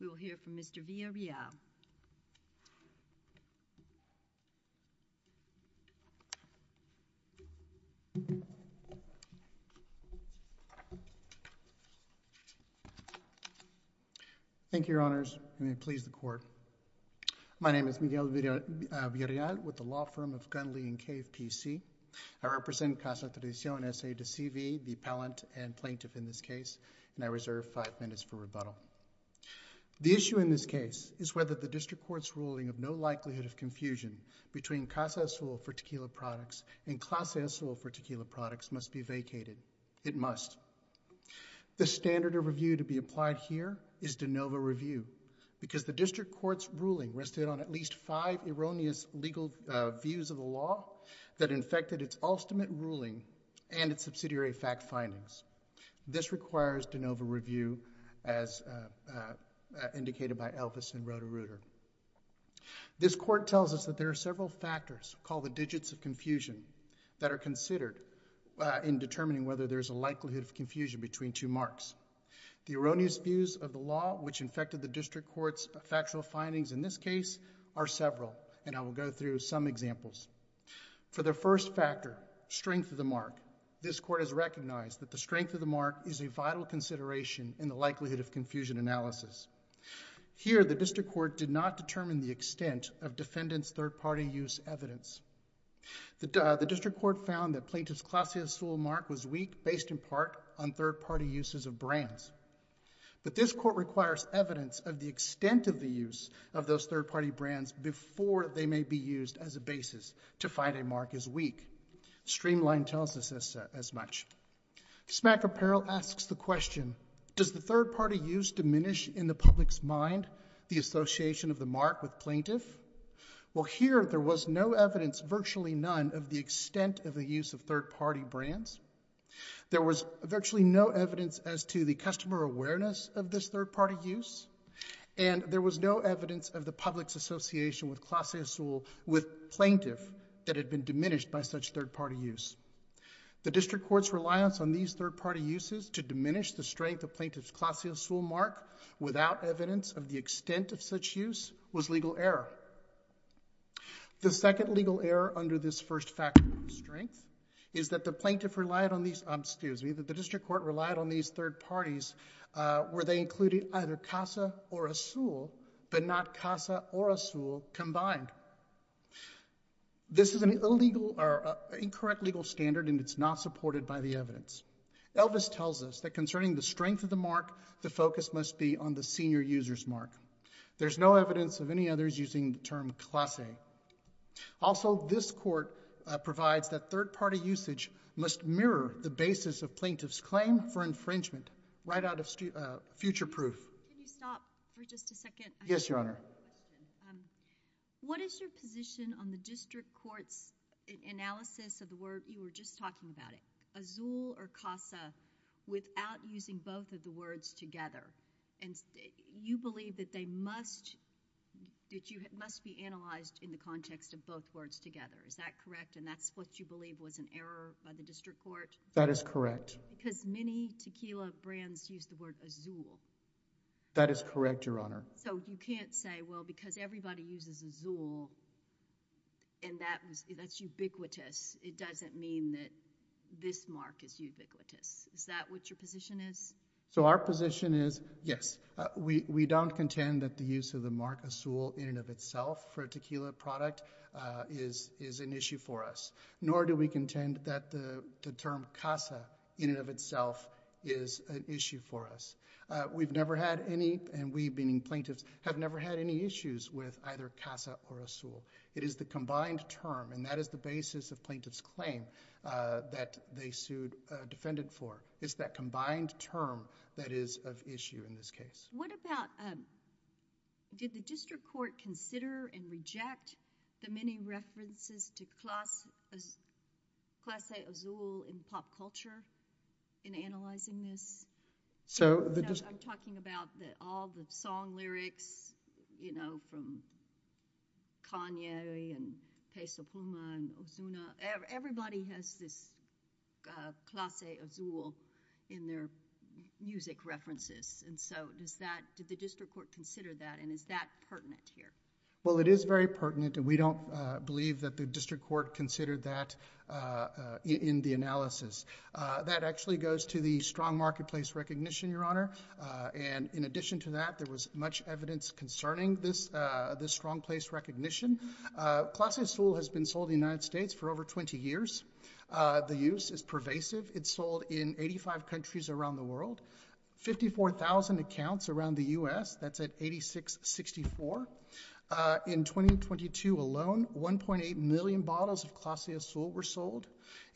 We will hear from Mr. Villarreal. Thank you, Your Honors. May it please the Court. My name is Miguel Villarreal with the law firm of Gunley & Cave, P.C. I represent Casa Tradicion S.A. de C.V., the appellant and plaintiff in this case, and I reserve five minutes for rebuttal. The issue in this case is whether the District Court's ruling of no likelihood of confusion between Casa Azul for tequila products and Casa Azul for tequila products must be vacated. It must. The standard of review to be applied here is de novo review because the District Court's ruling rested on at least five erroneous legal views of the law that infected its ultimate ruling and its subsidiary fact findings. This requires de novo review as indicated by Elvis and Roto-Rooter. This Court tells us that there are several factors called the digits of confusion that are considered in determining whether there is a likelihood of confusion between two marks. The erroneous views of the law which infected the District Court's factual findings in this case are several, and I will go through some examples. For the first factor, strength of the mark, this Court has recognized that the strength of the mark is a vital consideration in the likelihood of confusion analysis. Here the District Court did not determine the extent of defendant's third-party use evidence. The District Court found that Plaintiff's Casa Azul mark was weak based in part on third-party uses of brands, but this Court requires evidence of the extent of the use of those third-party brands before they may be used as a basis to find a mark as weak. Streamline tells us as much. Smack Apparel asks the question, does the third-party use diminish in the public's mind the association of the mark with Plaintiff? Well, here there was no evidence, virtually none, of the extent of the use of third-party brands. There was virtually no evidence as to the customer awareness of this third-party use, and there was no evidence of the public's association with Plaintiff that had been diminished by such third-party use. The District Court's reliance on these third-party uses to diminish the strength of Plaintiff's Casa Azul mark without evidence of the extent of such use was legal error. The second legal error under this first factor, strength, is that the District Court relied on these third-parties where they included either Casa or Azul but not Casa or Azul combined. This is an incorrect legal standard, and it's not supported by the evidence. Elvis tells us that concerning the strength of the mark, the focus must be on the senior user's mark. There's no evidence of any others using the term classe. Also, this Court provides that third-party usage must mirror the basis of Plaintiff's claim for infringement right out of future proof. Can you stop for just a second? Yes, Your Honor. What is your position on the District Court's analysis of the word you were just talking about, Azul or Casa, without using both of the words together? You believe that they must be analyzed in the context of both words together. Is that correct? And that's what you believe was an error by the District Court? That is correct. Because many tequila brands use the word Azul. That is correct, Your Honor. So you can't say, well, because everybody uses Azul, and that's ubiquitous, it doesn't mean that this mark is ubiquitous. Is that what your position is? So our position is, yes. We don't contend that the use of the mark Azul in and of itself for a tequila product is an issue for us. Nor do we contend that the term Casa in and of itself is an issue for us. We've never had any, and we being plaintiffs, have never had any issues with either Casa or Azul. It is the combined term, and that is the basis of Plaintiff's claim that they sued a defendant for. It's that combined term that is of issue in this case. What about, did the District Court consider and reject the many references to Casa Azul in pop culture in analyzing this? So the- I'm talking about all the song lyrics, you know, from Kanye and Peso Puma and Ozuna. Everybody has this Casa Azul in their music references. And so does that, did the District Court consider that, and is that pertinent here? Well, it is very pertinent, and we don't believe that the District Court considered that in the analysis. That actually goes to the strong marketplace recognition, Your Honor. And in addition to that, there was much evidence concerning this strong place recognition. Casa Azul has been sold in the United States for over 20 years. The use is pervasive. It's sold in 85 countries around the world. 54,000 accounts around the U.S., that's at 8664. In 2022 alone, 1.8 million bottles of Casa Azul were sold.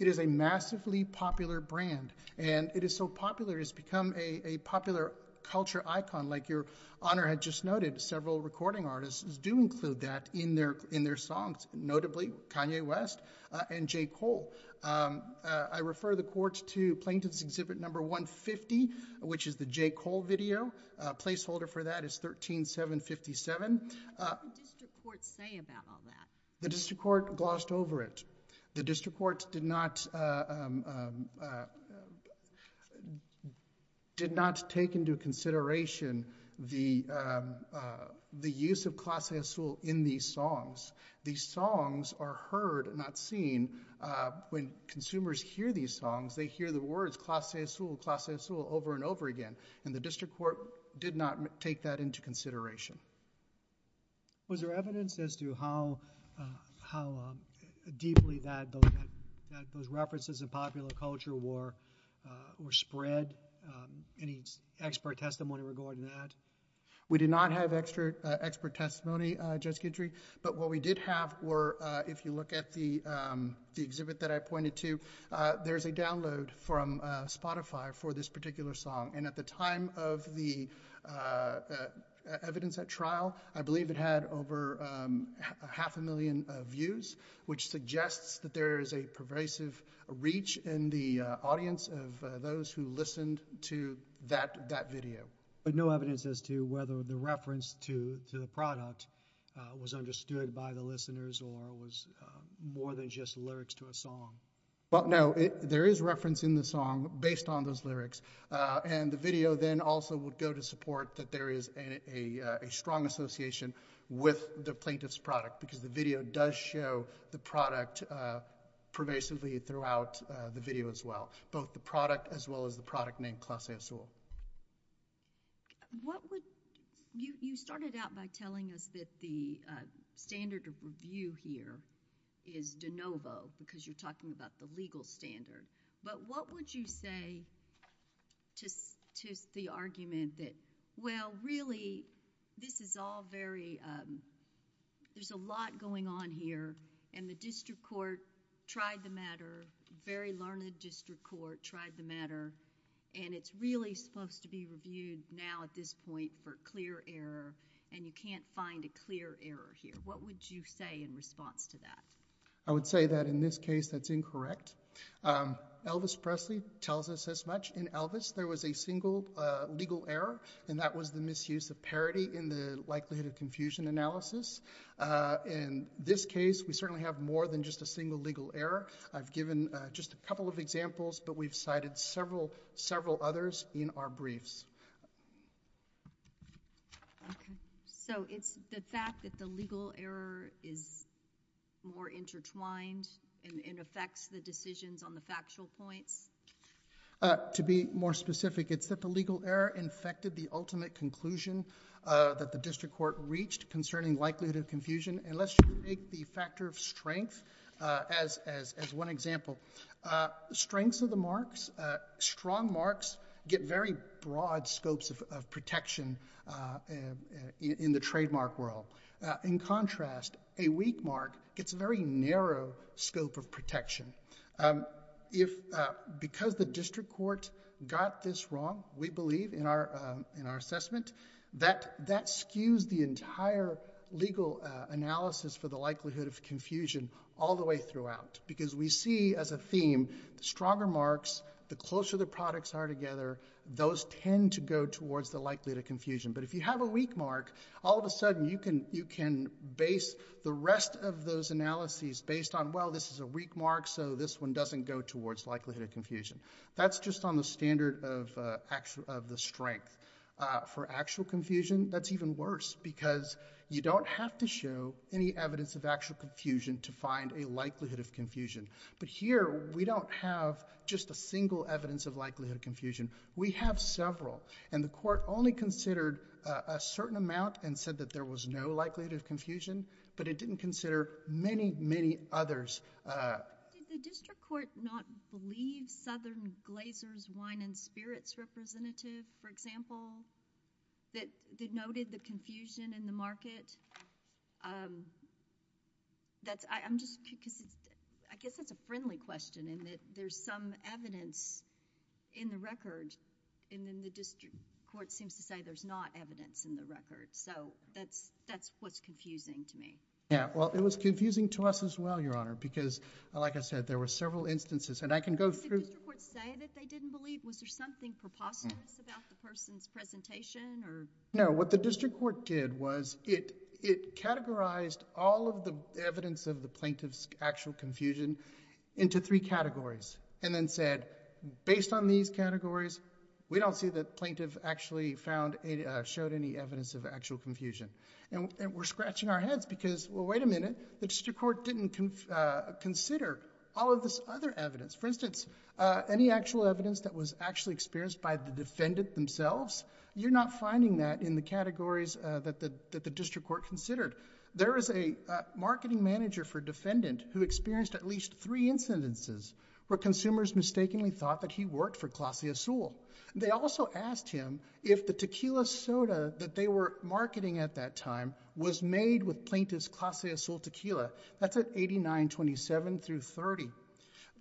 It is a massively popular brand, and it is so popular it's become a popular culture icon. Like Your Honor had just noted, several recording artists do include that in their songs, notably Kanye West and J. Cole. I refer the Court to Plaintiff's Exhibit 150, which is the J. Cole video, placeholder for that is 13757. What did the District Court say about all that? The District Court glossed over it. The District Court did not take into consideration the use of Casa Azul in these songs. These songs are heard, not seen. When consumers hear these songs, they hear the words Casa Azul, Casa Azul over and over again, and the District Court did not take that into consideration. Was there evidence as to how deeply that those references of popular culture were spread? Any expert testimony regarding that? We did not have expert testimony, Judge Guidry, but what we did have were, if you look at the exhibit that I pointed to, there's a download from Spotify for this particular song, and at the time of the evidence at trial, I believe it had over half a million views, which suggests that there is a pervasive reach in the audience of those who listened to that video. But no evidence as to whether the reference to the product was understood by the listeners or was more than just lyrics to a song? Well, no. There is reference in the song based on those lyrics, and the video then also would go to support that there is a strong association with the plaintiff's product, because the video does show the product pervasively throughout the video as well, both the product as well as the product named Classe Azul. You started out by telling us that the standard of review here is de novo, because you're talking about the legal standard, but what would you say to the argument that, well, really, this is all very... there's a lot going on here, and the District Court tried the matter, very learned District Court tried the matter, and it's really supposed to be reviewed now at this point for clear error, and you can't find a clear error here. What would you say in response to that? I would say that in this case, that's incorrect. Elvis Presley tells us as much. In Elvis, there was a single legal error, and that was the misuse of parody in the likelihood of confusion analysis. In this case, we certainly have more than just a single legal error. I've given just a couple of examples, but we've cited several others in our briefs. Okay. So, it's the fact that the legal error is more intertwined and affects the decisions on the factual points? To be more specific, it's that the legal error infected the ultimate conclusion that the District Court reached concerning likelihood of confusion, and let's just take the factor of strength as one example. Strengths of the marks, strong marks get very broad scopes of protection in the trademark world. In contrast, a weak mark gets a very narrow scope of protection. Because the District Court got this wrong, we believe in our assessment, that skews the entire legal analysis for the likelihood of confusion all the way throughout, because we see as a theme, the stronger marks, the closer the products are together, those tend to go towards the likelihood of confusion. But if you have a weak mark, all of a sudden, you can base the rest of those analyses based on, well, this is a weak mark, so this one doesn't go towards likelihood of confusion. That's just on the standard of the strength. For actual confusion, that's even worse, because you don't have to show any evidence of actual confusion to find a likelihood of confusion, but here, we don't have just a single evidence of likelihood of confusion. We have several, and the Court only considered a certain amount and said that there was no likelihood of confusion, but it didn't consider many, many others. Did the District Court not believe Southern Glazer's Wine and Spirits representative, for example, that denoted the confusion in the market? I guess that's a friendly question, in that there's some evidence in the record, and then the District Court seems to say there's not evidence in the record. So, that's what's confusing to me. Yeah. Well, it was confusing to us as well, Your Honor, because, like I said, there were several instances, and I can go through... Did the District Court say that they didn't believe? Was there something preposterous about the person's presentation, or... No. What the District Court did was it categorized all of the evidence of the plaintiff's actual confusion into three categories, and then said, based on these categories, we don't see that the plaintiff actually showed any evidence of actual confusion, and we're scratching our heads because, well, wait a minute, the District Court didn't consider all of this other evidence. For instance, any actual evidence that was actually experienced by the defendant themselves, you're not finding that in the categories that the District Court considered. There is a marketing manager for a defendant who experienced at least three incidences where consumers mistakenly thought that he worked for Klossy O'Sull. They also asked him if the tequila soda that they were marketing at that time was made with plaintiff's Klossy O'Sull tequila. That's at 8927 through 30.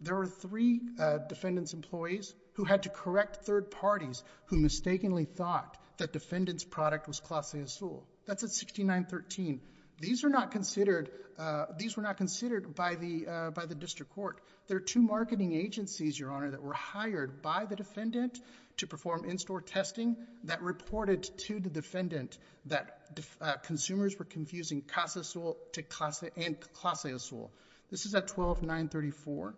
There were three defendant's employees who had to correct third parties who mistakenly thought that defendant's product was Klossy O'Sull. That's at 6913. These were not considered by the District Court. There are two marketing agencies, Your Honor, that were hired by the defendant to perform in-store testing that reported to the defendant that consumers were confusing Klossy O'Sull and Klossy O'Sull. This is at 12934,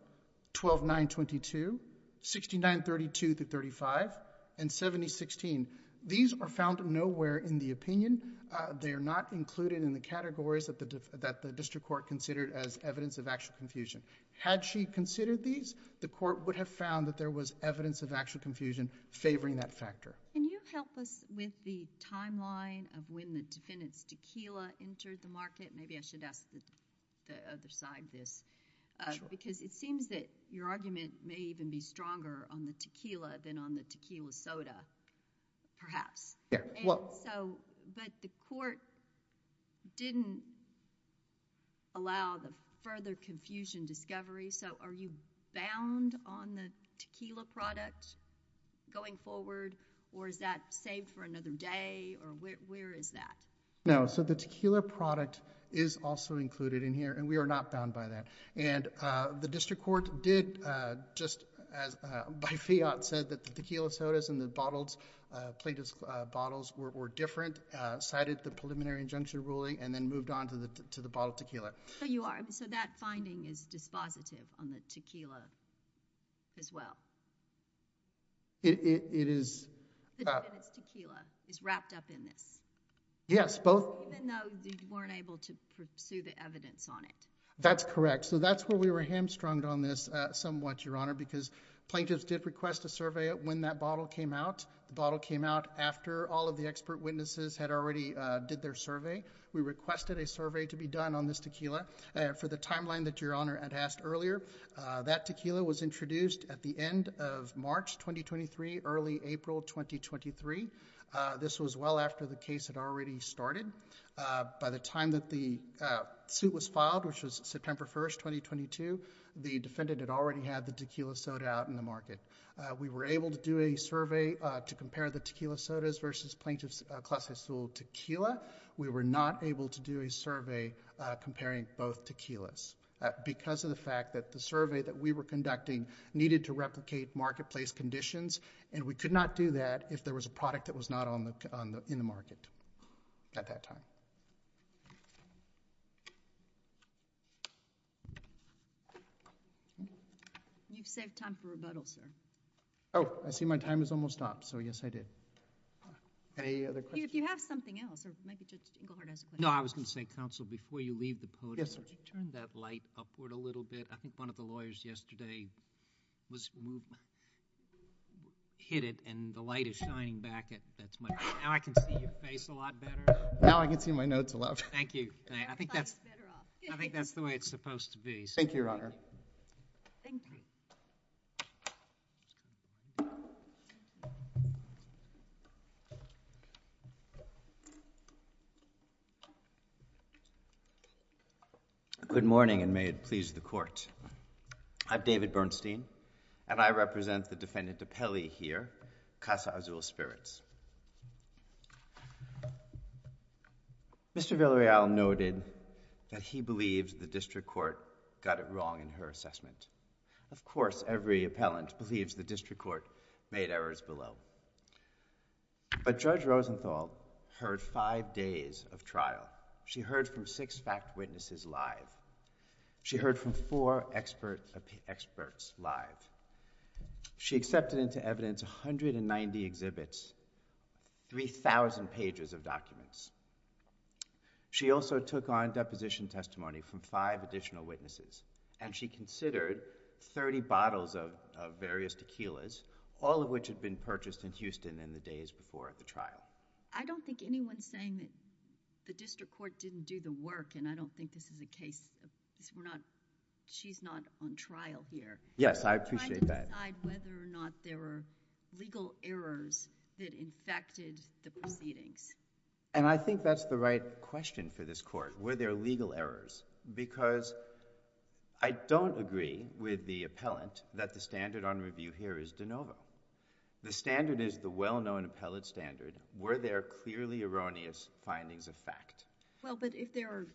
12922, 6932 through 35, and 7016. These are found nowhere in the opinion. They are not included in the categories that the District Court considered as evidence of actual confusion. Had she considered these, the Court would have found that there was evidence of actual confusion favoring that factor. Can you help us with the timeline of when the defendant's tequila entered the market? Maybe I should ask the other side this. Sure. Because it seems that your argument may even be stronger on the tequila than on the tequila soda, perhaps. Yeah. Well... But the Court didn't allow the further confusion to seem to be a factor. you bound on the tequila product going forward, or is that saved for another day, or where is that? No. So the tequila product is also included in here, and we are not bound by that. And the District Court did, just as, by fiat, said that the tequila sodas and the bottled, plated bottles were different, cited the preliminary injunction ruling, and then moved on to the bottled tequila. So you are... So that finding is dispositive on the tequila as well? It is... The defendant's tequila is wrapped up in this? Yes. Both... Even though they weren't able to pursue the evidence on it? That's correct. So that's where we were hamstrung on this somewhat, Your Honor, because plaintiffs did request a survey of when that bottle came out. The bottle came out after all of the expert witnesses had already did their survey. We requested a survey to be done on this tequila. For the timeline that Your Honor had asked earlier, that tequila was introduced at the end of March 2023, early April 2023. This was well after the case had already started. By the time that the suit was filed, which was September 1st, 2022, the defendant had already had the tequila soda out in the market. We were able to do a survey to compare the tequila sodas versus Plaintiff's Class A Sealed Tequila. We were not able to do a survey comparing both tequilas because of the fact that the survey that we were conducting needed to replicate marketplace conditions, and we could not do that if there was a product that was not in the market at that time. You've saved time for rebuttal, sir. Oh, I see my time has almost stopped, so yes, I did. Any other questions? If you have something else, or maybe Judge Englehardt has a question. No, I was going to say, counsel, before you leave the podium, would you turn that light upward a little bit? I think one of the lawyers yesterday hit it, and the light is shining back. Now I can see your face a lot better. Now I can see my notes a lot better. Thank you. I think that's the way it's supposed to be. Thank you, Your Honor. Thank you. Good morning, and may it please the Court. I'm David Bernstein, and I represent the Defendant DiPelle here, Casa Azul Spirits. Mr. Villareal noted that he believes the district court got it wrong in her assessment. Of course, every appellant believes the district court made errors below. But Judge Rosenthal heard five days of trial. She heard from six fact witnesses live. She heard from four experts live. She accepted into evidence 190 exhibits, 3,000 pages of documents. She also took on deposition testimony from five additional witnesses, and she considered 30 bottles of various tequilas, all of which had been purchased in Houston in the days before at the trial. I don't think anyone's saying that the district court didn't do the work, and I don't think this is a case... she's not on trial here. Yes, I appreciate that. I'm trying to decide whether or not there were legal errors that infected the proceedings. And I think that's the right question for this Court. Were there legal errors? Because I don't agree with the appellant that the standard on review here is de novo. The standard is the well-known appellate standard. Were there clearly erroneous findings of fact? Well, but if there are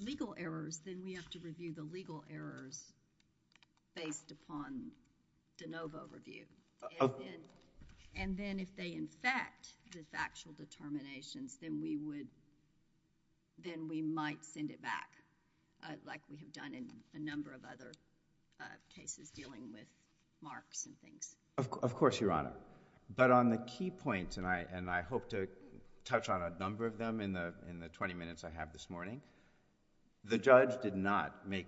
legal errors, then we have to review the legal errors based upon de novo review. And then if they infect the factual determinations, then we might send it back like we have done in a number of other cases dealing with marks and things. Of course, Your Honor. But on the key points, and I hope to touch on a number of them in the twenty minutes I have this morning, the judge did not make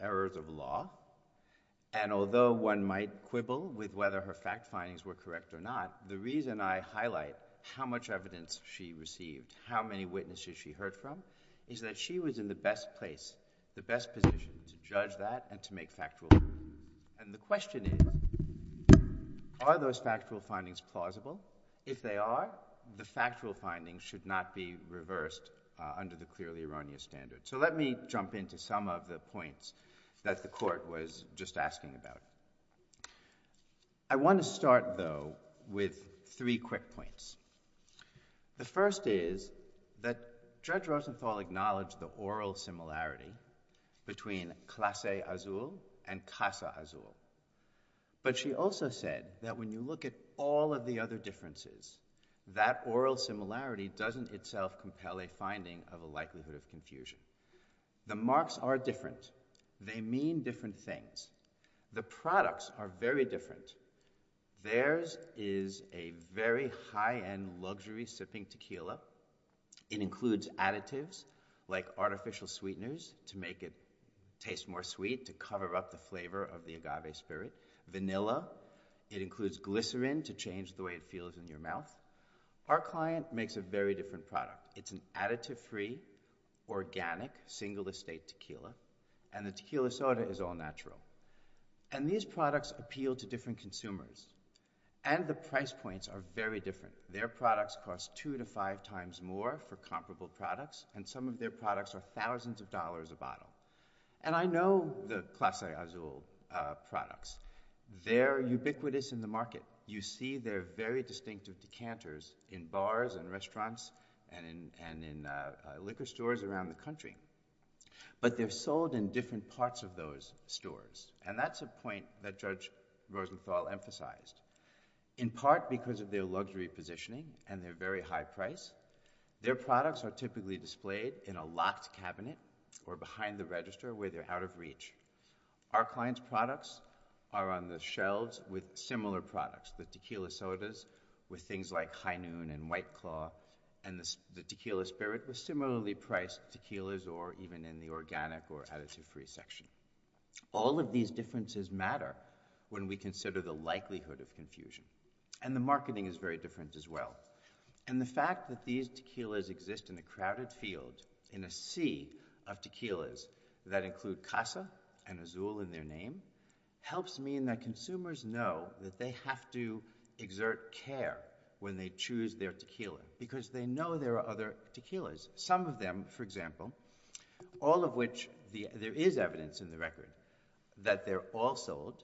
errors of law. And although one might quibble with whether her fact findings were correct or not, the reason I highlight how much evidence she received, how many witnesses she heard from, is that she was in the best place, the best position to judge that and to make factual... And the question is, are those factual findings plausible? If they are, the factual findings should not be reversed under the clearly erroneous standard. So let me jump into some of the points that the court was just asking about. I want to start, though, with three quick points. The first is that Judge Rosenthal acknowledged the oral similarity between classe azul and casa azul. But she also said that when you look at all of the other differences, that oral similarity doesn't itself compel a finding of a likelihood of confusion. The marks are different. They mean different things. The products are very different. Theirs is a very high-end luxury sipping tequila. It includes additives like artificial sweeteners to make it taste more sweet, to cover up the flavor of the agave spirit. Vanilla. It includes glycerin to change the way it feels in your mouth. Our client makes a very different product. It's an additive-free, organic, single-estate tequila. And the tequila soda is all-natural. And these products appeal to different consumers. And the price points are very different. Their products cost two to five times more for comparable products. And some of their products are thousands of dollars a bottle. And I know the classe azul products. They're ubiquitous in the market. You see their very distinctive decanters in bars and restaurants and in liquor stores around the country. But they're sold in different parts of those stores. And that's a point that Judge Rosenthal emphasized. In part because of their luxury positioning and their very high price, their products are typically displayed in a locked cabinet or behind the register where they're out of reach. Our client's products are on the shelves with similar products. The tequila sodas with things like high noon and white claw and the tequila spirit with similarly priced tequilas or even in the organic or additive-free section. All of these differences matter when we consider the likelihood of confusion. And the marketing is very different as well. And the fact that these tequilas exist in a crowded field in a sea of tequilas that include Casa and Azul in their name helps mean that consumers know that they have to exert care when they choose their tequila. Because they know there are other tequilas. Some of them, for example, all of which there is evidence in the record that they're all sold.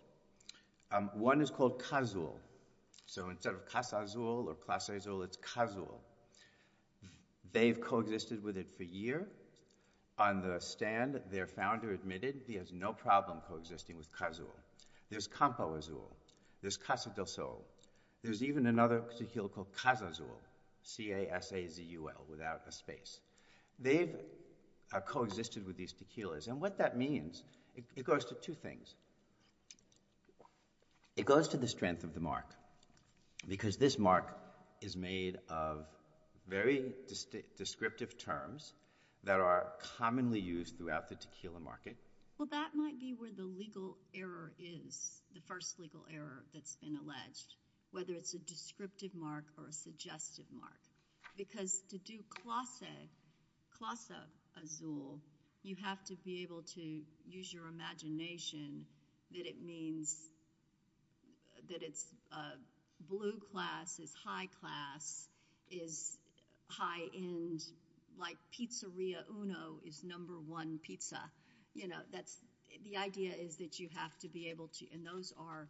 One is called Cazul. So instead of Casa Azul or Casa Azul, it's Cazul. They've coexisted with it for a year. On the stand, their founder admitted he has no problem coexisting with Cazul. There's Campo Azul. There's Casa del Sol. There's even another tequila called Casa Azul. C-A-S-A-Z-U-L without a space. They've coexisted with these tequilas. And what that means, it goes to two things. It goes to the strength of the mark. Because this mark is made of very descriptive terms that are commonly used throughout the tequila market. Well, that might be where the legal error is. The first legal error that's been alleged. Whether it's a descriptive mark or a suggestive mark. Because to do Casa Azul, you have to be able to use your imagination. That it means that it's a blue class, it's high class, it's high end. Like Pizzeria Uno is number one pizza. The idea is that you have to be able to... And those are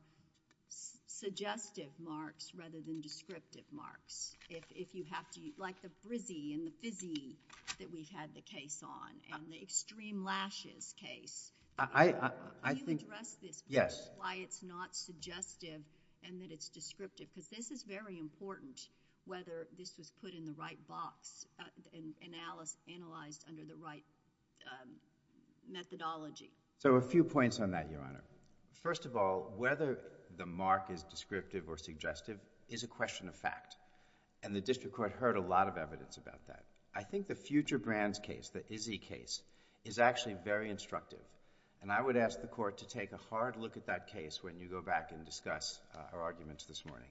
suggestive marks rather than descriptive marks. If you have to, like the Brizzy and the Fizzy that we had the case on. And the Extreme Lashes case. Can you address this? Yes. Why it's not suggestive and that it's descriptive? Because this is very important, whether this was put in the right box and analyzed under the right methodology. So a few points on that, Your Honor. First of all, whether the mark is descriptive or suggestive is a question of fact. And the district court heard a lot of evidence about that. I think the Future Brands case, the Izzy case, is actually very instructive. And I would ask the court to take a hard look at that case when you go back and discuss our arguments this morning.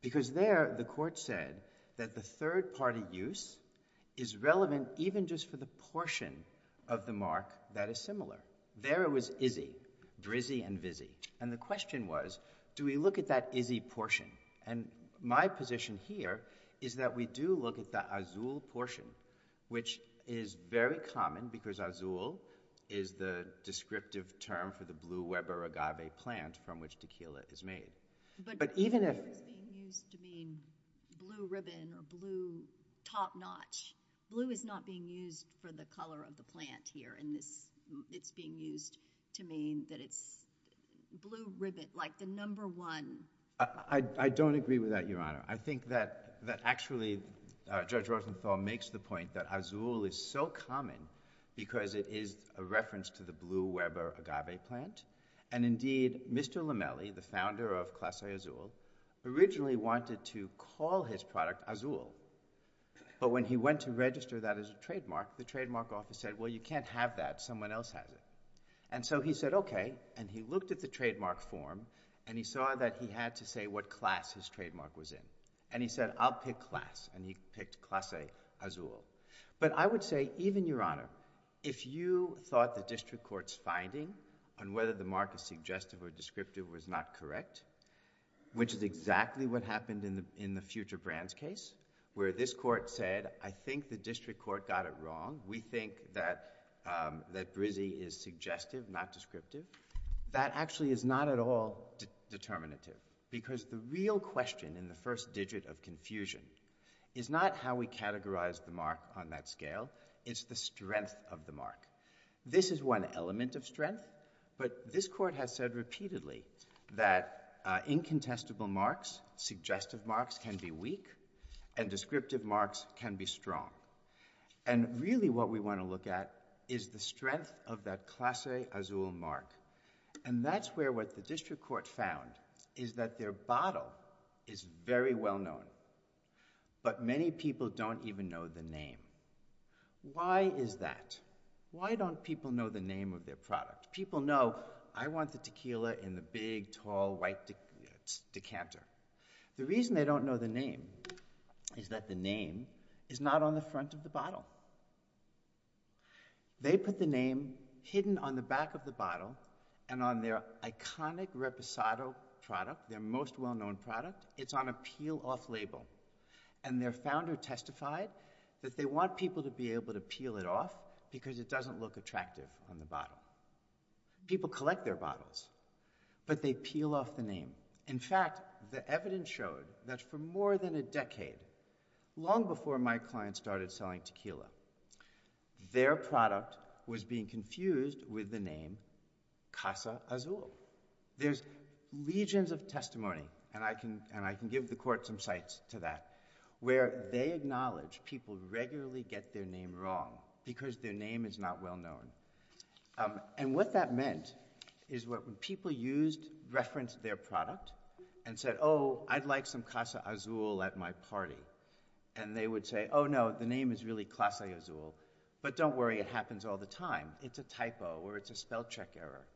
Because there the court said that the third party use is relevant even just for the portion of the mark that is similar. There it was Izzy, Brizzy and Vizzy. And the question was, do we look at that Izzy portion? And my position here is that we do look at the Azul portion, which is very common because Azul is the descriptive term for the Blue Weber Agave plant from which tequila is made. But even if... Blue is being used to mean blue ribbon or blue top notch. Blue is not being used for the color of the plant here. And it's being used to mean that it's blue ribbon, like the number one. I don't agree with that, Your Honor. I think that actually Judge Rosenthal makes the point that Azul is so common because it is a reference to the Blue Weber Agave plant. And indeed, Mr. Lamelli, the founder of Class A Azul, originally wanted to call his product Azul. But when he went to register that as a trademark, the trademark office said, well, you can't have that, someone else has it. And so he said, okay. And he looked at the trademark form and he saw that he had to say what class his trademark was in. And he said, I'll pick class. And he picked Class A Azul. But I would say, even Your Honor, if you thought the district court's finding on whether the mark is suggestive or descriptive was not correct, which is exactly what happened in the Future Brands case, where this court said, I think the district court got it wrong. We think that Brizzi is suggestive, not descriptive. That actually is not at all determinative. Because the real question in the first digit of confusion is not how we categorize the mark on that scale, it's the strength of the mark. This is one element of strength. But this court has said repeatedly that incontestable marks, suggestive marks, can be weak and descriptive marks can be strong. And really what we want to look at is the strength of that Class A Azul mark. And that's where what the district court found is that their bottle is very well known. But many people don't even know the name. Why is that? Why don't people know the name of their product? People know, I want the tequila in the big, tall, white decanter. The reason they don't know the name is that the name is not on the front of the bottle. They put the name hidden on the back of the bottle and on their iconic Reposado product, their most well-known product, it's on a peel-off label. And their founder testified that they want people to be able to peel it off because it doesn't look attractive on the bottle. People collect their bottles, but they peel off the name. In fact, the evidence showed that for more than a decade, long before my clients started selling tequila, their product was being confused with the name Casa Azul. There's legions of testimony, and I can give the court some sights to that, where they acknowledge people regularly get their name wrong because their name is not well known. And what that meant is when people referenced their product and said, oh, I'd like some Casa Azul at my party, and they would say, oh, no, the name is really Casa Azul, but don't worry, it happens all the time. It's a typo or it's a spell-check error.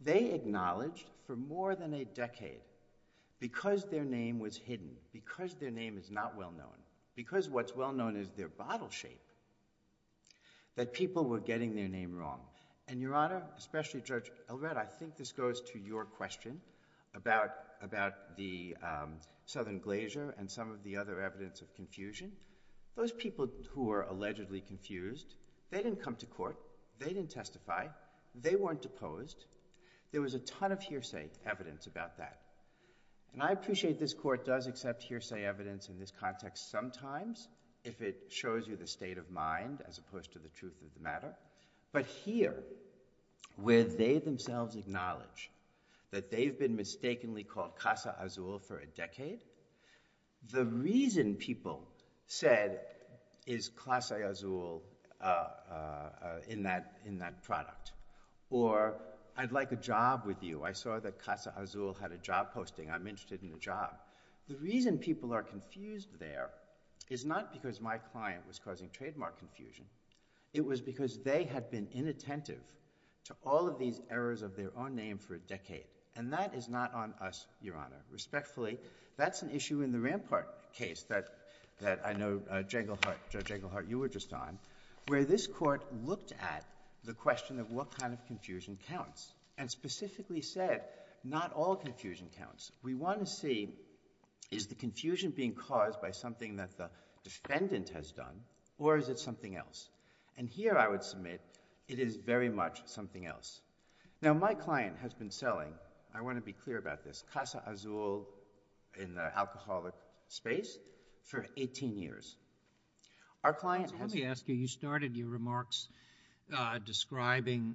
They acknowledged for more than a decade, because their name was hidden, because their name is not well known, because what's well known is their bottle shape, that people were getting their name wrong. And, Your Honor, especially Judge Elred, I think this goes to your question about the Southern Glacier and some of the other evidence of confusion. Those people who are allegedly confused, they didn't come to court, they didn't testify, they weren't deposed. There was a ton of hearsay evidence about that. And I appreciate this court does accept hearsay evidence in this context sometimes, if it shows you the state of mind as opposed to the truth of the matter. But here, where they themselves acknowledge that they've been mistakenly called Casa Azul for a decade, the reason people said, is Casa Azul in that product? Or, I'd like a job with you. I saw that Casa Azul had a job posting. I'm interested in the job. The reason people are confused there is not because my client was causing trademark confusion. It was because they had been inattentive to all of these errors of their own name for a decade. And that is not on us, Your Honor. Respectfully, that's an issue in the Rampart case that I know, Judge Englehart, you were just on, where this court looked at the question of what kind of confusion counts. And specifically said, not all confusion counts. We want to see, is the confusion being caused by something that the defendant has done, or is it something else? And here, I would submit, it is very much something else. Now, my client has been selling, I want to be clear about this, Casa Azul in the alcoholic space for 18 years. Our client has... Let me ask you, you started your remarks describing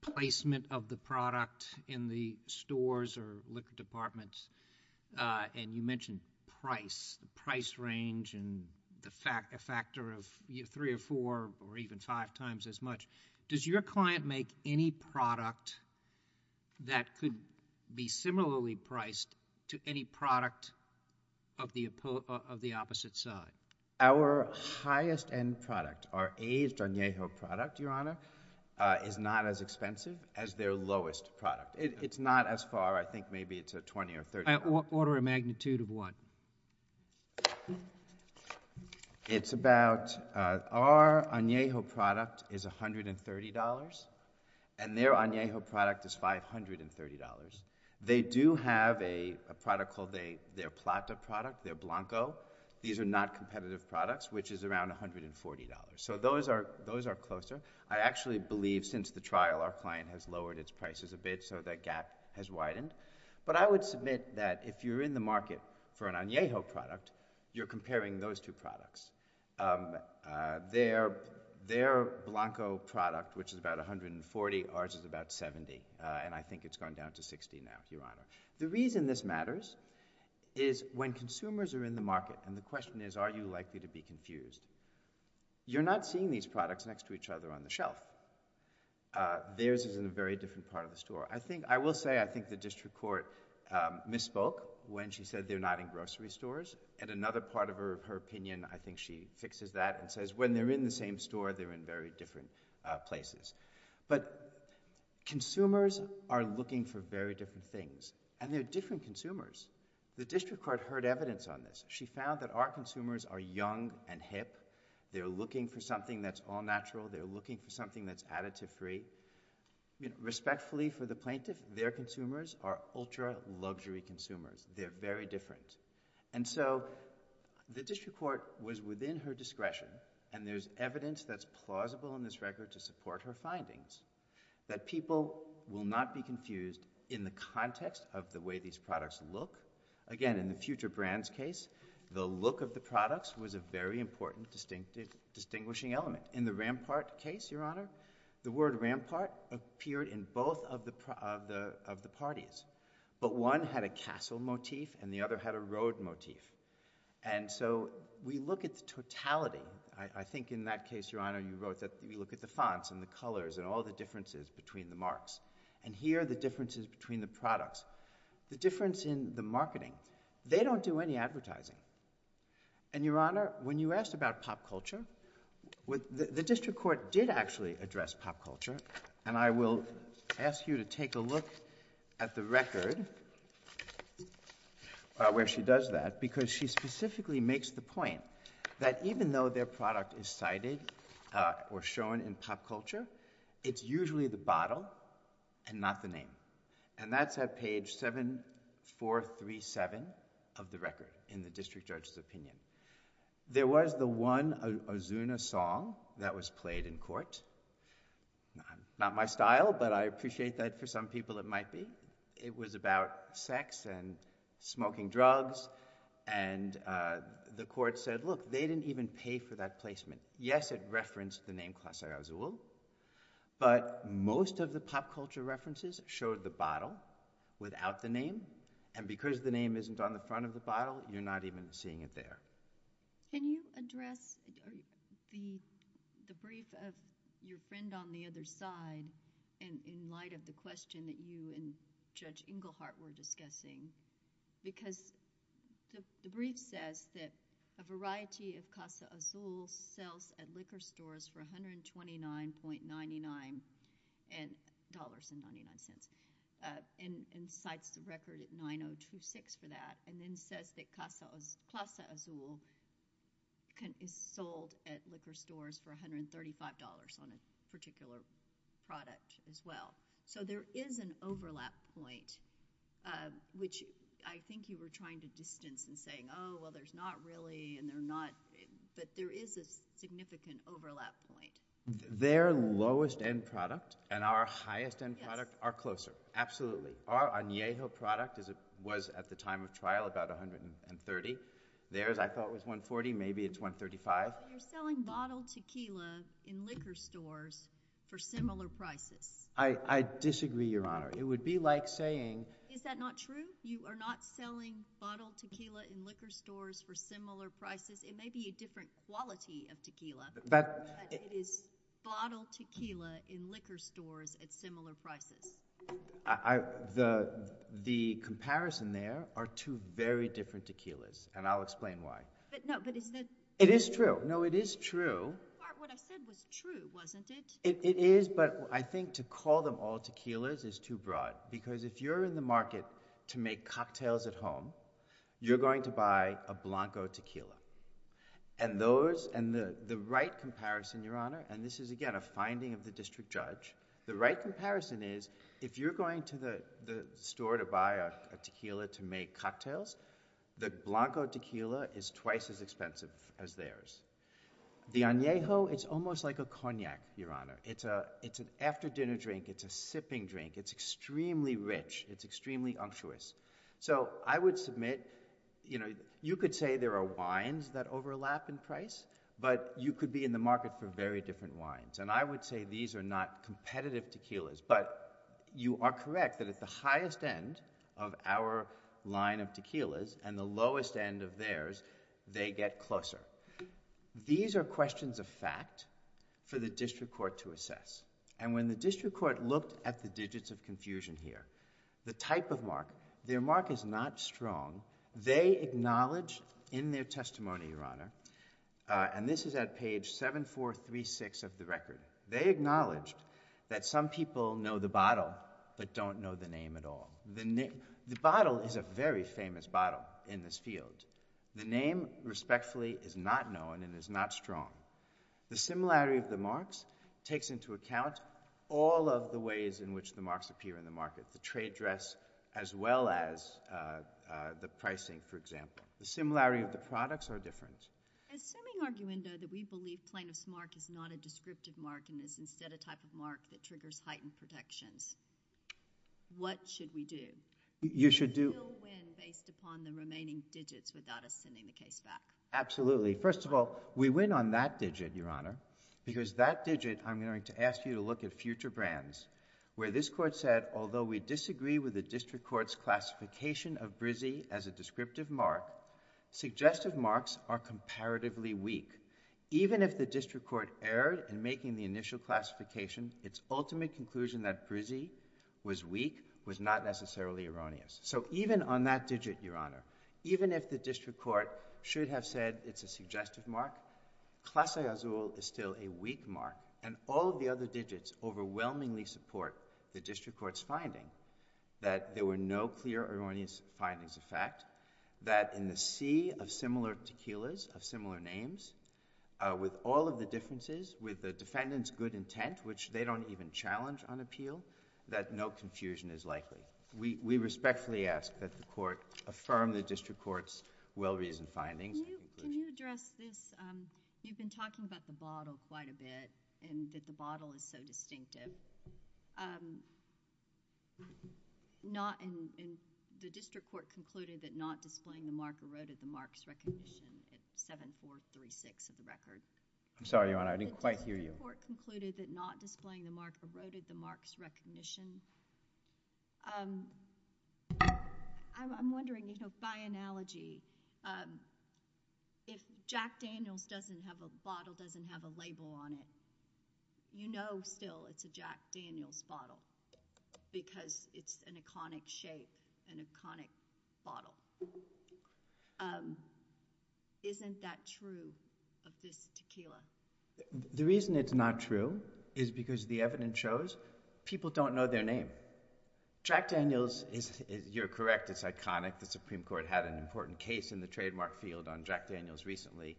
placement of the product in the stores or liquor departments, and you mentioned price, the price range, and the factor of 3 or 4 or even 5 times as much. Does your client make any product that could be similarly priced to any product of the opposite side? Our highest-end product, our aged Anejo product, Your Honor, is not as expensive as their lowest product. It's not as far. I think maybe it's $20 or $30. Order a magnitude of what? It's about... Our Anejo product is $130, and their Anejo product is $530. They do have a product called their Plata product, their Blanco. These are not competitive products, which is around $140. So those are closer. I actually believe since the trial our client has lowered its prices a bit so that gap has widened. But I would submit that if you're in the market for an Anejo product, you're comparing those two products. Their Blanco product, which is about $140, ours is about $70, and I think it's gone down to $60 now, Your Honor. The reason this matters is when consumers are in the market, and the question is, are you likely to be confused? You're not seeing these products next to each other on the shelf. Theirs is in a very different part of the store. I will say I think the district court misspoke when she said they're not in grocery stores, and another part of her opinion, I think she fixes that and says when they're in the same store, they're in very different places. But consumers are looking for very different things, and they're different consumers. The district court heard evidence on this. She found that our consumers are young and hip. They're looking for something that's all-natural. They're looking for something that's additive-free. Respectfully for the plaintiff, their consumers are ultra-luxury consumers. They're very different. And so the district court was within her discretion, and there's evidence that's plausible in this record to support her findings, that people will not be confused in the context of the way these products look. Again, in the Future Brands case, the look of the products was a very important distinguishing element. In the Rampart case, Your Honor, the word rampart appeared in both of the parties. But one had a castle motif, and the other had a road motif. And so we look at the totality. I think in that case, Your Honor, you wrote that we look at the fonts and the colors and all the differences between the marks. And here are the differences between the products. The difference in the marketing. They don't do any advertising. And, Your Honor, when you asked about pop culture, the district court did actually address pop culture, and I will ask you to take a look at the record where she does that, because she specifically makes the point that even though their product is cited or shown in pop culture, it's usually the bottle and not the name. And that's at page 7437 of the record in the district judge's opinion. There was the one Ozuna song that was played in court. Not my style, but I appreciate that for some people it might be. It was about sex and smoking drugs, and the court said, look, they didn't even pay for that placement. Yes, it referenced the name Klasair Ozul, but most of the pop culture references showed the bottle without the name, and because the name isn't on the front of the bottle, you're not even seeing it there. Can you address the brief of your friend on the other side in light of the question that you and Judge Englehart were discussing? Because the brief says that a variety of Klasair Ozul sells at liquor stores for $129.99. Dollars and 99 cents. And cites the record at 9026 for that, and then says that Klasair Ozul is sold at liquor stores for $135 on a particular product as well. So there is an overlap point, which I think you were trying to distance and saying, oh, well, there's not really, but there is a significant overlap point. Their lowest-end product and our highest-end product are closer. Absolutely. Our Añejo product was, at the time of trial, about $130. Theirs, I thought, was $140. Maybe it's $135. You're selling bottled tequila in liquor stores for similar prices. I disagree, Your Honor. It would be like saying... Is that not true? You are not selling bottled tequila in liquor stores for similar prices. It may be a different quality of tequila. It is bottled tequila in liquor stores at similar prices. The comparison there are two very different tequilas, and I'll explain why. No, but is that... It is true. No, it is true. What I said was true, wasn't it? It is, but I think to call them all tequilas is too broad, because if you're in the market to make cocktails at home, you're going to buy a Blanco tequila. The right comparison, Your Honor, and this is, again, a finding of the district judge. The right comparison is, if you're going to the store to buy a tequila to make cocktails, the Blanco tequila is twice as expensive as theirs. The Añejo, it's almost like a cognac, Your Honor. It's an after-dinner drink. It's a sipping drink. It's extremely rich. It's extremely unctuous. I would submit, you could say there are wines that overlap in price, but you could be in the market for very different wines, and I would say these are not competitive tequilas, but you are correct that at the highest end of our line of tequilas and the lowest end of theirs, they get closer. These are questions of fact for the district court to assess, and when the district court looked at the digits of confusion here, the type of mark, their mark is not strong. They acknowledge, in their testimony, Your Honor, and this is at page 7436 of the record, they acknowledged that some people know the bottle but don't know the name at all. The bottle is a very famous bottle in this field. The name, respectfully, is not known and is not strong. The similarity of the marks takes into account all of the ways in which the marks appear in the market, the trade dress as well as the pricing, The similarity of the products are different. Assuming, arguendo, that we believe plaintiff's mark is not a descriptive mark and is instead a type of mark that triggers heightened protections, what should we do? You should do... Do we still win based upon the remaining digits without us sending the case back? Absolutely. First of all, we win on that digit, Your Honor, because that digit, I'm going to ask you to look at future brands where this court said, although we disagree with the district court's classification of brizzy as a descriptive mark, suggestive marks are comparatively weak. Even if the district court erred in making the initial classification, its ultimate conclusion that brizzy was weak was not necessarily erroneous. So even on that digit, Your Honor, even if the district court should have said it's a suggestive mark, clase azul is still a weak mark and all of the other digits overwhelmingly support the district court's finding. That there were no clear erroneous findings of fact. That in the sea of similar tequilas, of similar names, with all of the differences, with the defendant's good intent, which they don't even challenge on appeal, that no confusion is likely. We respectfully ask that the court affirm the district court's well-reasoned findings. Can you address this? You've been talking about the bottle quite a bit and that the bottle is so distinctive. The district court concluded that not displaying the mark eroded the mark's recognition at 7-4-3-6 of the record. I'm sorry, Your Honor. I didn't quite hear you. The district court concluded that not displaying the mark eroded the mark's recognition. I'm wondering, you know, by analogy, if Jack Daniels doesn't have a bottle, doesn't have a label on it, you know still it's a Jack Daniels bottle. Because it's an iconic shape, an iconic bottle. Isn't that true of this tequila? The reason it's not true is because the evidence shows people don't know their name. Jack Daniels, you're correct, it's iconic. The Supreme Court had an important case in the trademark field on Jack Daniels recently.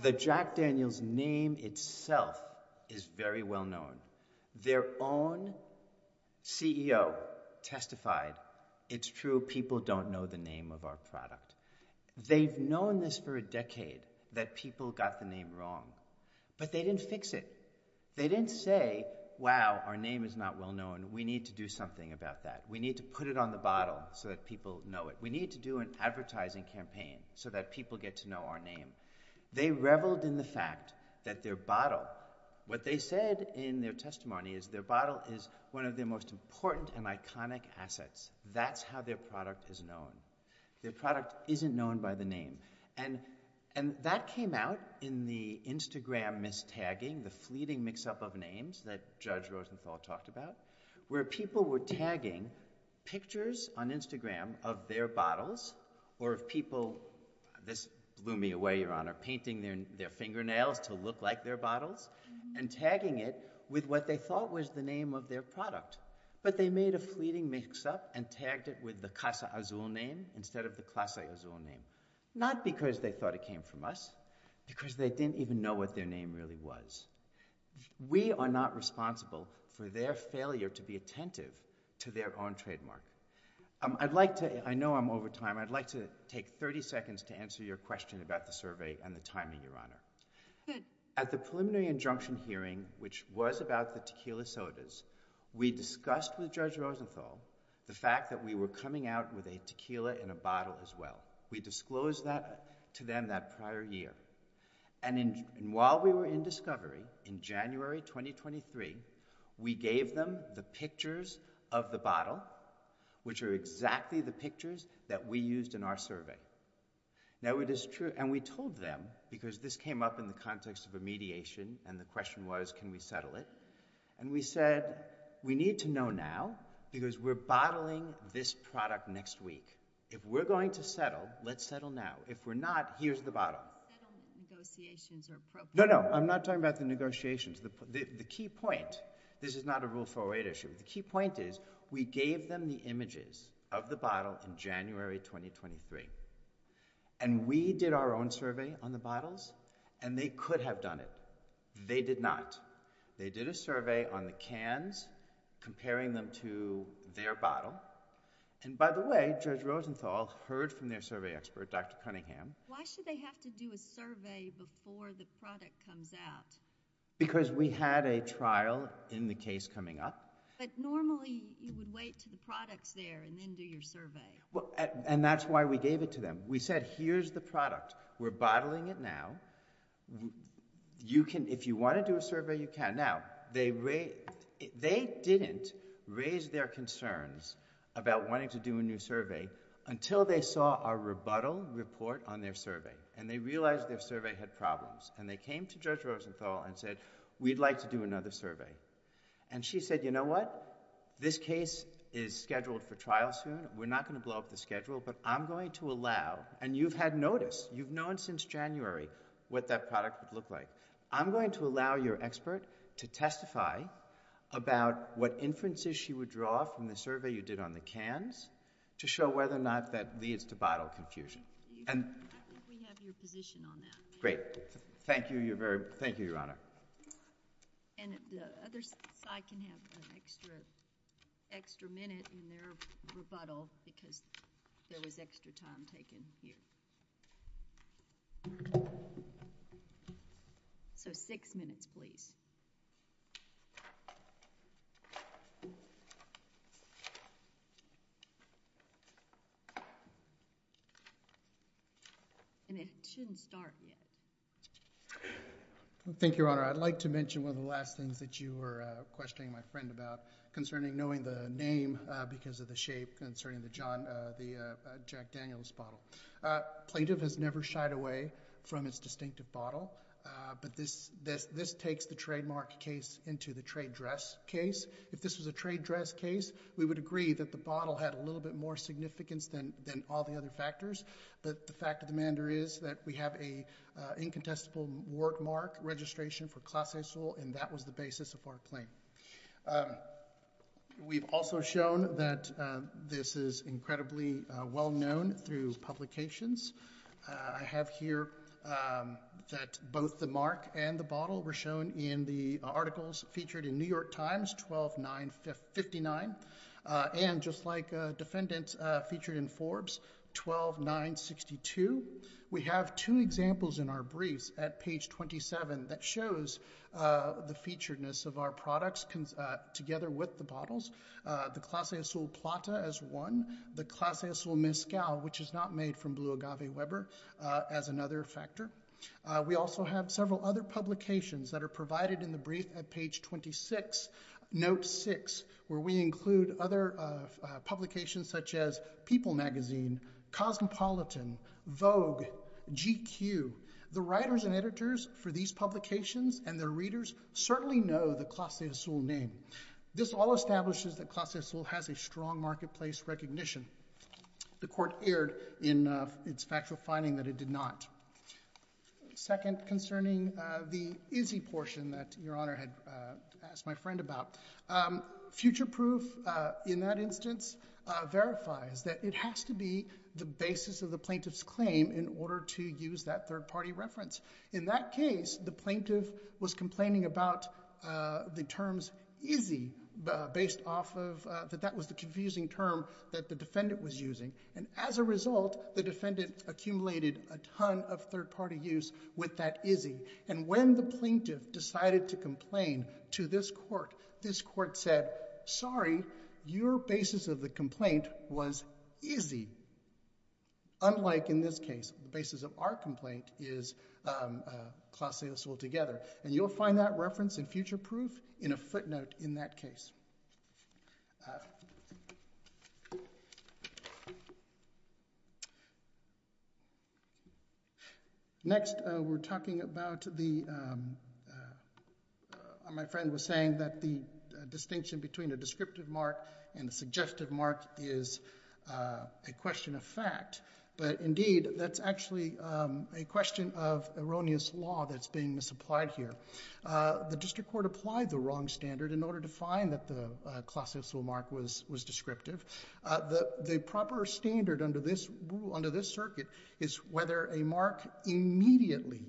The Jack Daniels name itself is very well known. Their own CEO testified, it's true, people don't know the name of our product. They've known this for a decade that people got the name wrong. But they didn't fix it. They didn't say, wow, our name is not well known. We need to do something about that. We need to put it on the bottle so that people know it. We need to do an advertising campaign so that people get to know our name. They reveled in the fact that their bottle, what they said in their testimony is their bottle is one of their most important and iconic assets. That's how their product is known. Their product isn't known by the name. And that came out in the Instagram mistagging, the fleeting mix-up of names that Judge Rosenthal talked about where people were tagging pictures on Instagram of their bottles or of people, this blew me away, Your Honor, painting their fingernails to look like their bottles. And tagging it with what they thought was the name of their product. But they made a fleeting mix-up and tagged it with the Casa Azul name instead of the Casa Azul name. Not because they thought it came from us, because they didn't even know what their name really was. We are not responsible for their failure to be attentive to their own trademark. I'd like to, I know I'm over time, I'd like to take 30 seconds to answer your question about the survey and the timing, Your Honor. At the preliminary injunction hearing, which was about the tequila sodas, we discussed with Judge Rosenthal the fact that we were coming out with a tequila in a bottle as well. We disclosed that to them that prior year. And while we were in discovery in January 2023, we gave them the pictures of the bottle, which are exactly the pictures that we used in our survey. Now it is true, and we told them because this came up in the context of a mediation and the question was can we settle it? And we said, we need to know now because we're bottling this product next week. If we're going to settle, let's settle now. If we're not, here's the bottle. Negotiations are appropriate. No, no, I'm not talking about the negotiations. The key point, this is not a Rule 408 issue, the key point is we gave them the images of the bottle in January 2023. And we did our own survey on the bottles and they could have done it. They did not. They did a survey on the cans comparing them to their bottle. And by the way, Judge Rosenthal heard from their survey expert, Dr. Cunningham. Why should they have to do a survey before the product comes out? Because we had a trial in the case coming up. But normally you would wait to the products there and then do your survey. And that's why we gave it to them. We said, here's the product. We're bottling it now. You can, if you want to do a survey, you can. Now, they didn't raise their concerns about wanting to do a new survey until they saw our rebuttal report on their survey. And they realized their survey had problems. And they came to Judge Rosenthal and said, we'd like to do another survey. And she said, you know what? This case is scheduled for trial soon. We're not going to blow up the schedule. But I'm going to allow, and you've had notice, you've known since January what that product would look like. I'm going to allow your expert to testify about what inferences she would draw from the survey you did on the cans to show whether or not that leads to bottle confusion. And... I think we have your position on that. Great. Thank you, Your Honor. And the other side can have an extra minute in their rebuttal because there was extra time taken here. So, six minutes, please. And it shouldn't start yet. Thank you, Your Honor. I'd like to mention one of the last things that you were questioning my friend about concerning knowing the name because of the shape concerning the John... the Jack Daniels bottle. Plaintiff has never shied away from its distinctive bottle, but this... this takes the trademark case into the trade dress case. If this was a trade dress case, we would agree that the bottle had a little bit more significance than all the other factors, but the fact of the matter is that we have an incontestable word mark registration for Class A soil, and that was the basis of our claim. We've also shown that this is incredibly well-known through publications. I have here that both the mark and the bottle were shown in the articles featured in New York Times, 12-9-59, and just like defendants featured in 12-9-62. We have two examples in our briefs at page 27 that shows the featuredness of our products together with the bottles, the Class A soil Plata as one, the Class A soil Mezcal, which is not made from Blue Agave Weber, as another factor. We also have several other publications that are provided in the brief at page 26, note 6, where we include other publications such as People Magazine, Cosmopolitan, Vogue, GQ. The writers and editors for the Class A soil name. This all establishes that Class A soil has a strong marketplace recognition. The court erred in its factual finding that it did not. Second, concerning the easy portion that your honor had asked my about, future proof in that instance verifies that it has to be the basis of the plaintiff's claim in order to use that third-party reference. In that case, the plaintiff was complaining about the terms easy, based off of that was the confusing term that the defendant was using. As a result, the defendant accumulated a ton of third-party use with that easy. When the plaintiff decided to complain to this court, this court said, sorry, your basis of the was easy, unlike in this case. The was about the claim. Next, we're talking about the my friend was saying that the distinction between a mark and a suggestive mark is a question of fact. But, that's actually a question of erroneous law that's being misapplied here. The district court applied the wrong standard. The proper standard under this circuit is whether a mark immediately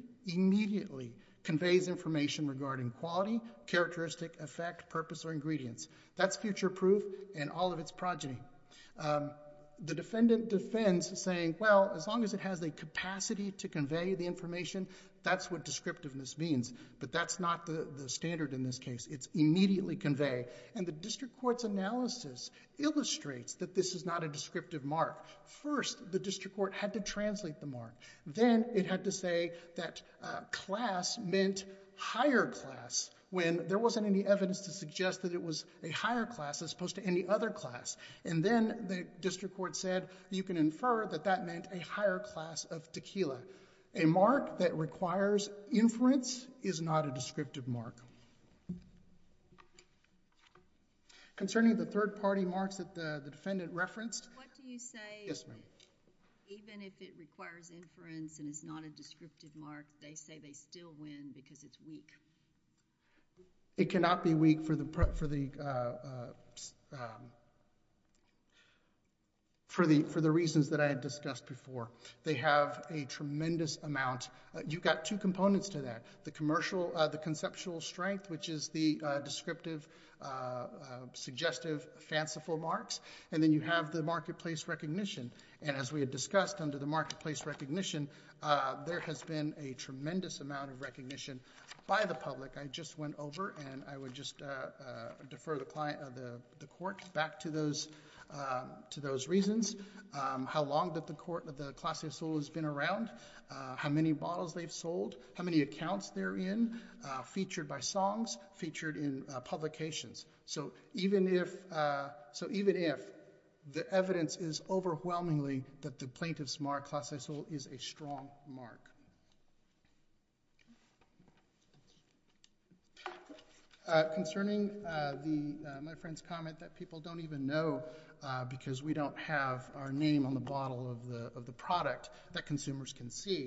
conveys information regarding quality, characteristic, effect, purpose, or description That's future proof and all of its progeny. The defendant defends saying, as long as it has the capacity to the information, that's what descriptiveness means, but that's not the case. The district court said that that meant a higher class of tequila. A mark that requires inference is not a mark. Concerning the third party marks that the referenced, what do you say even if it requires inference and is not a mark, they say they still win because it's weak? It cannot be weak for the reasons that I had discussed before. They have a tremendous amount. You've got two components to that. The conceptual strength, which is the descriptive suggestive fanciful marks, and then you have the marketplace recognition. As we discussed, there has been a tremendous amount of by the public. I would defer the court back to those reasons. How long has the class of solos been around? How many bottles have they sold? How many accounts are they in? Featured by songs, featured in Even if the evidence is overwhelmingly that the plaintiff's class is a strong mark. Concerning my friend's comment that people don't even know because we don't have our name on the bottle of the product that we're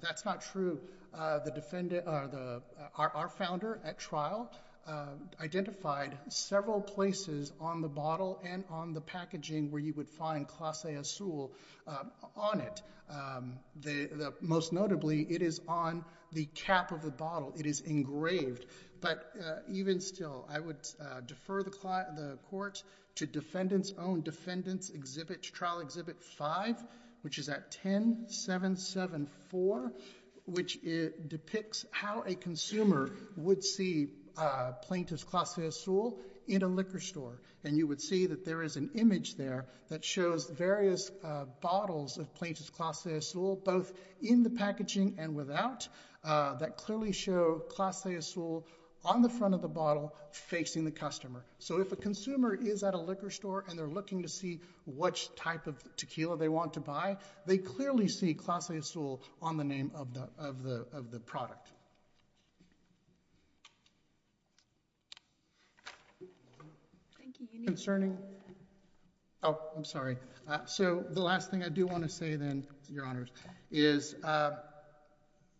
That's not true. Our founder at trial identified several places on the bottle and on the packaging where you would find class A solo on it. Most notably, it is on the cap of the It is engraved. Even still, I would defer the court to defendants trial exhibit 5, which is at 10774, which depicts how a consumer would see plaintiff's class A solo in a liquor store. You would see there is an image there that shows various bottles of plaintiff's class A solo in the packaging and without that clearly show class A solo on the front of the If a consumer is at a liquor store looking to see what type of tequila they want to buy, they clearly see class A solo on the name of the The last thing I do want to say then, Your Honors, is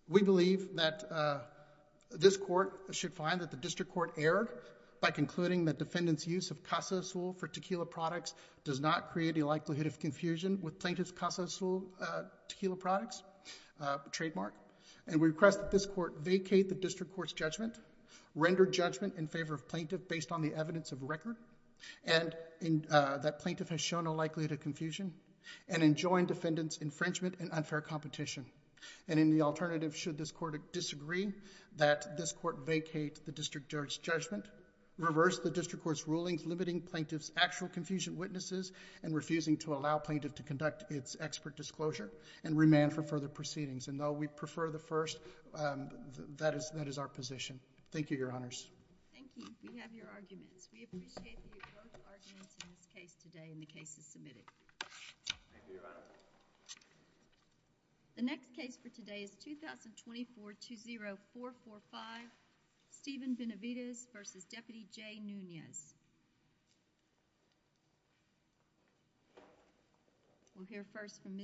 we believe that this court should find that the defendant's use of class A solo for tequila products does not create a likelihood of confusion with plaintiff's class A tequila products. We request that this court vacate the court's render judgment in favor of plaintiff based on the evidence of record, and that plaintiff has the right to its expert disclosure and remand for further proceedings. And though we prefer the first, that is our position. Thank you, Your Honors. Thank you. We have your arguments. We appreciate your both arguments in this case today and the cases submitted. Thank you. The next case for today is 2024-20445, Steven Benavides v. Deputy Jay Nunez. We'll hear first from Mr.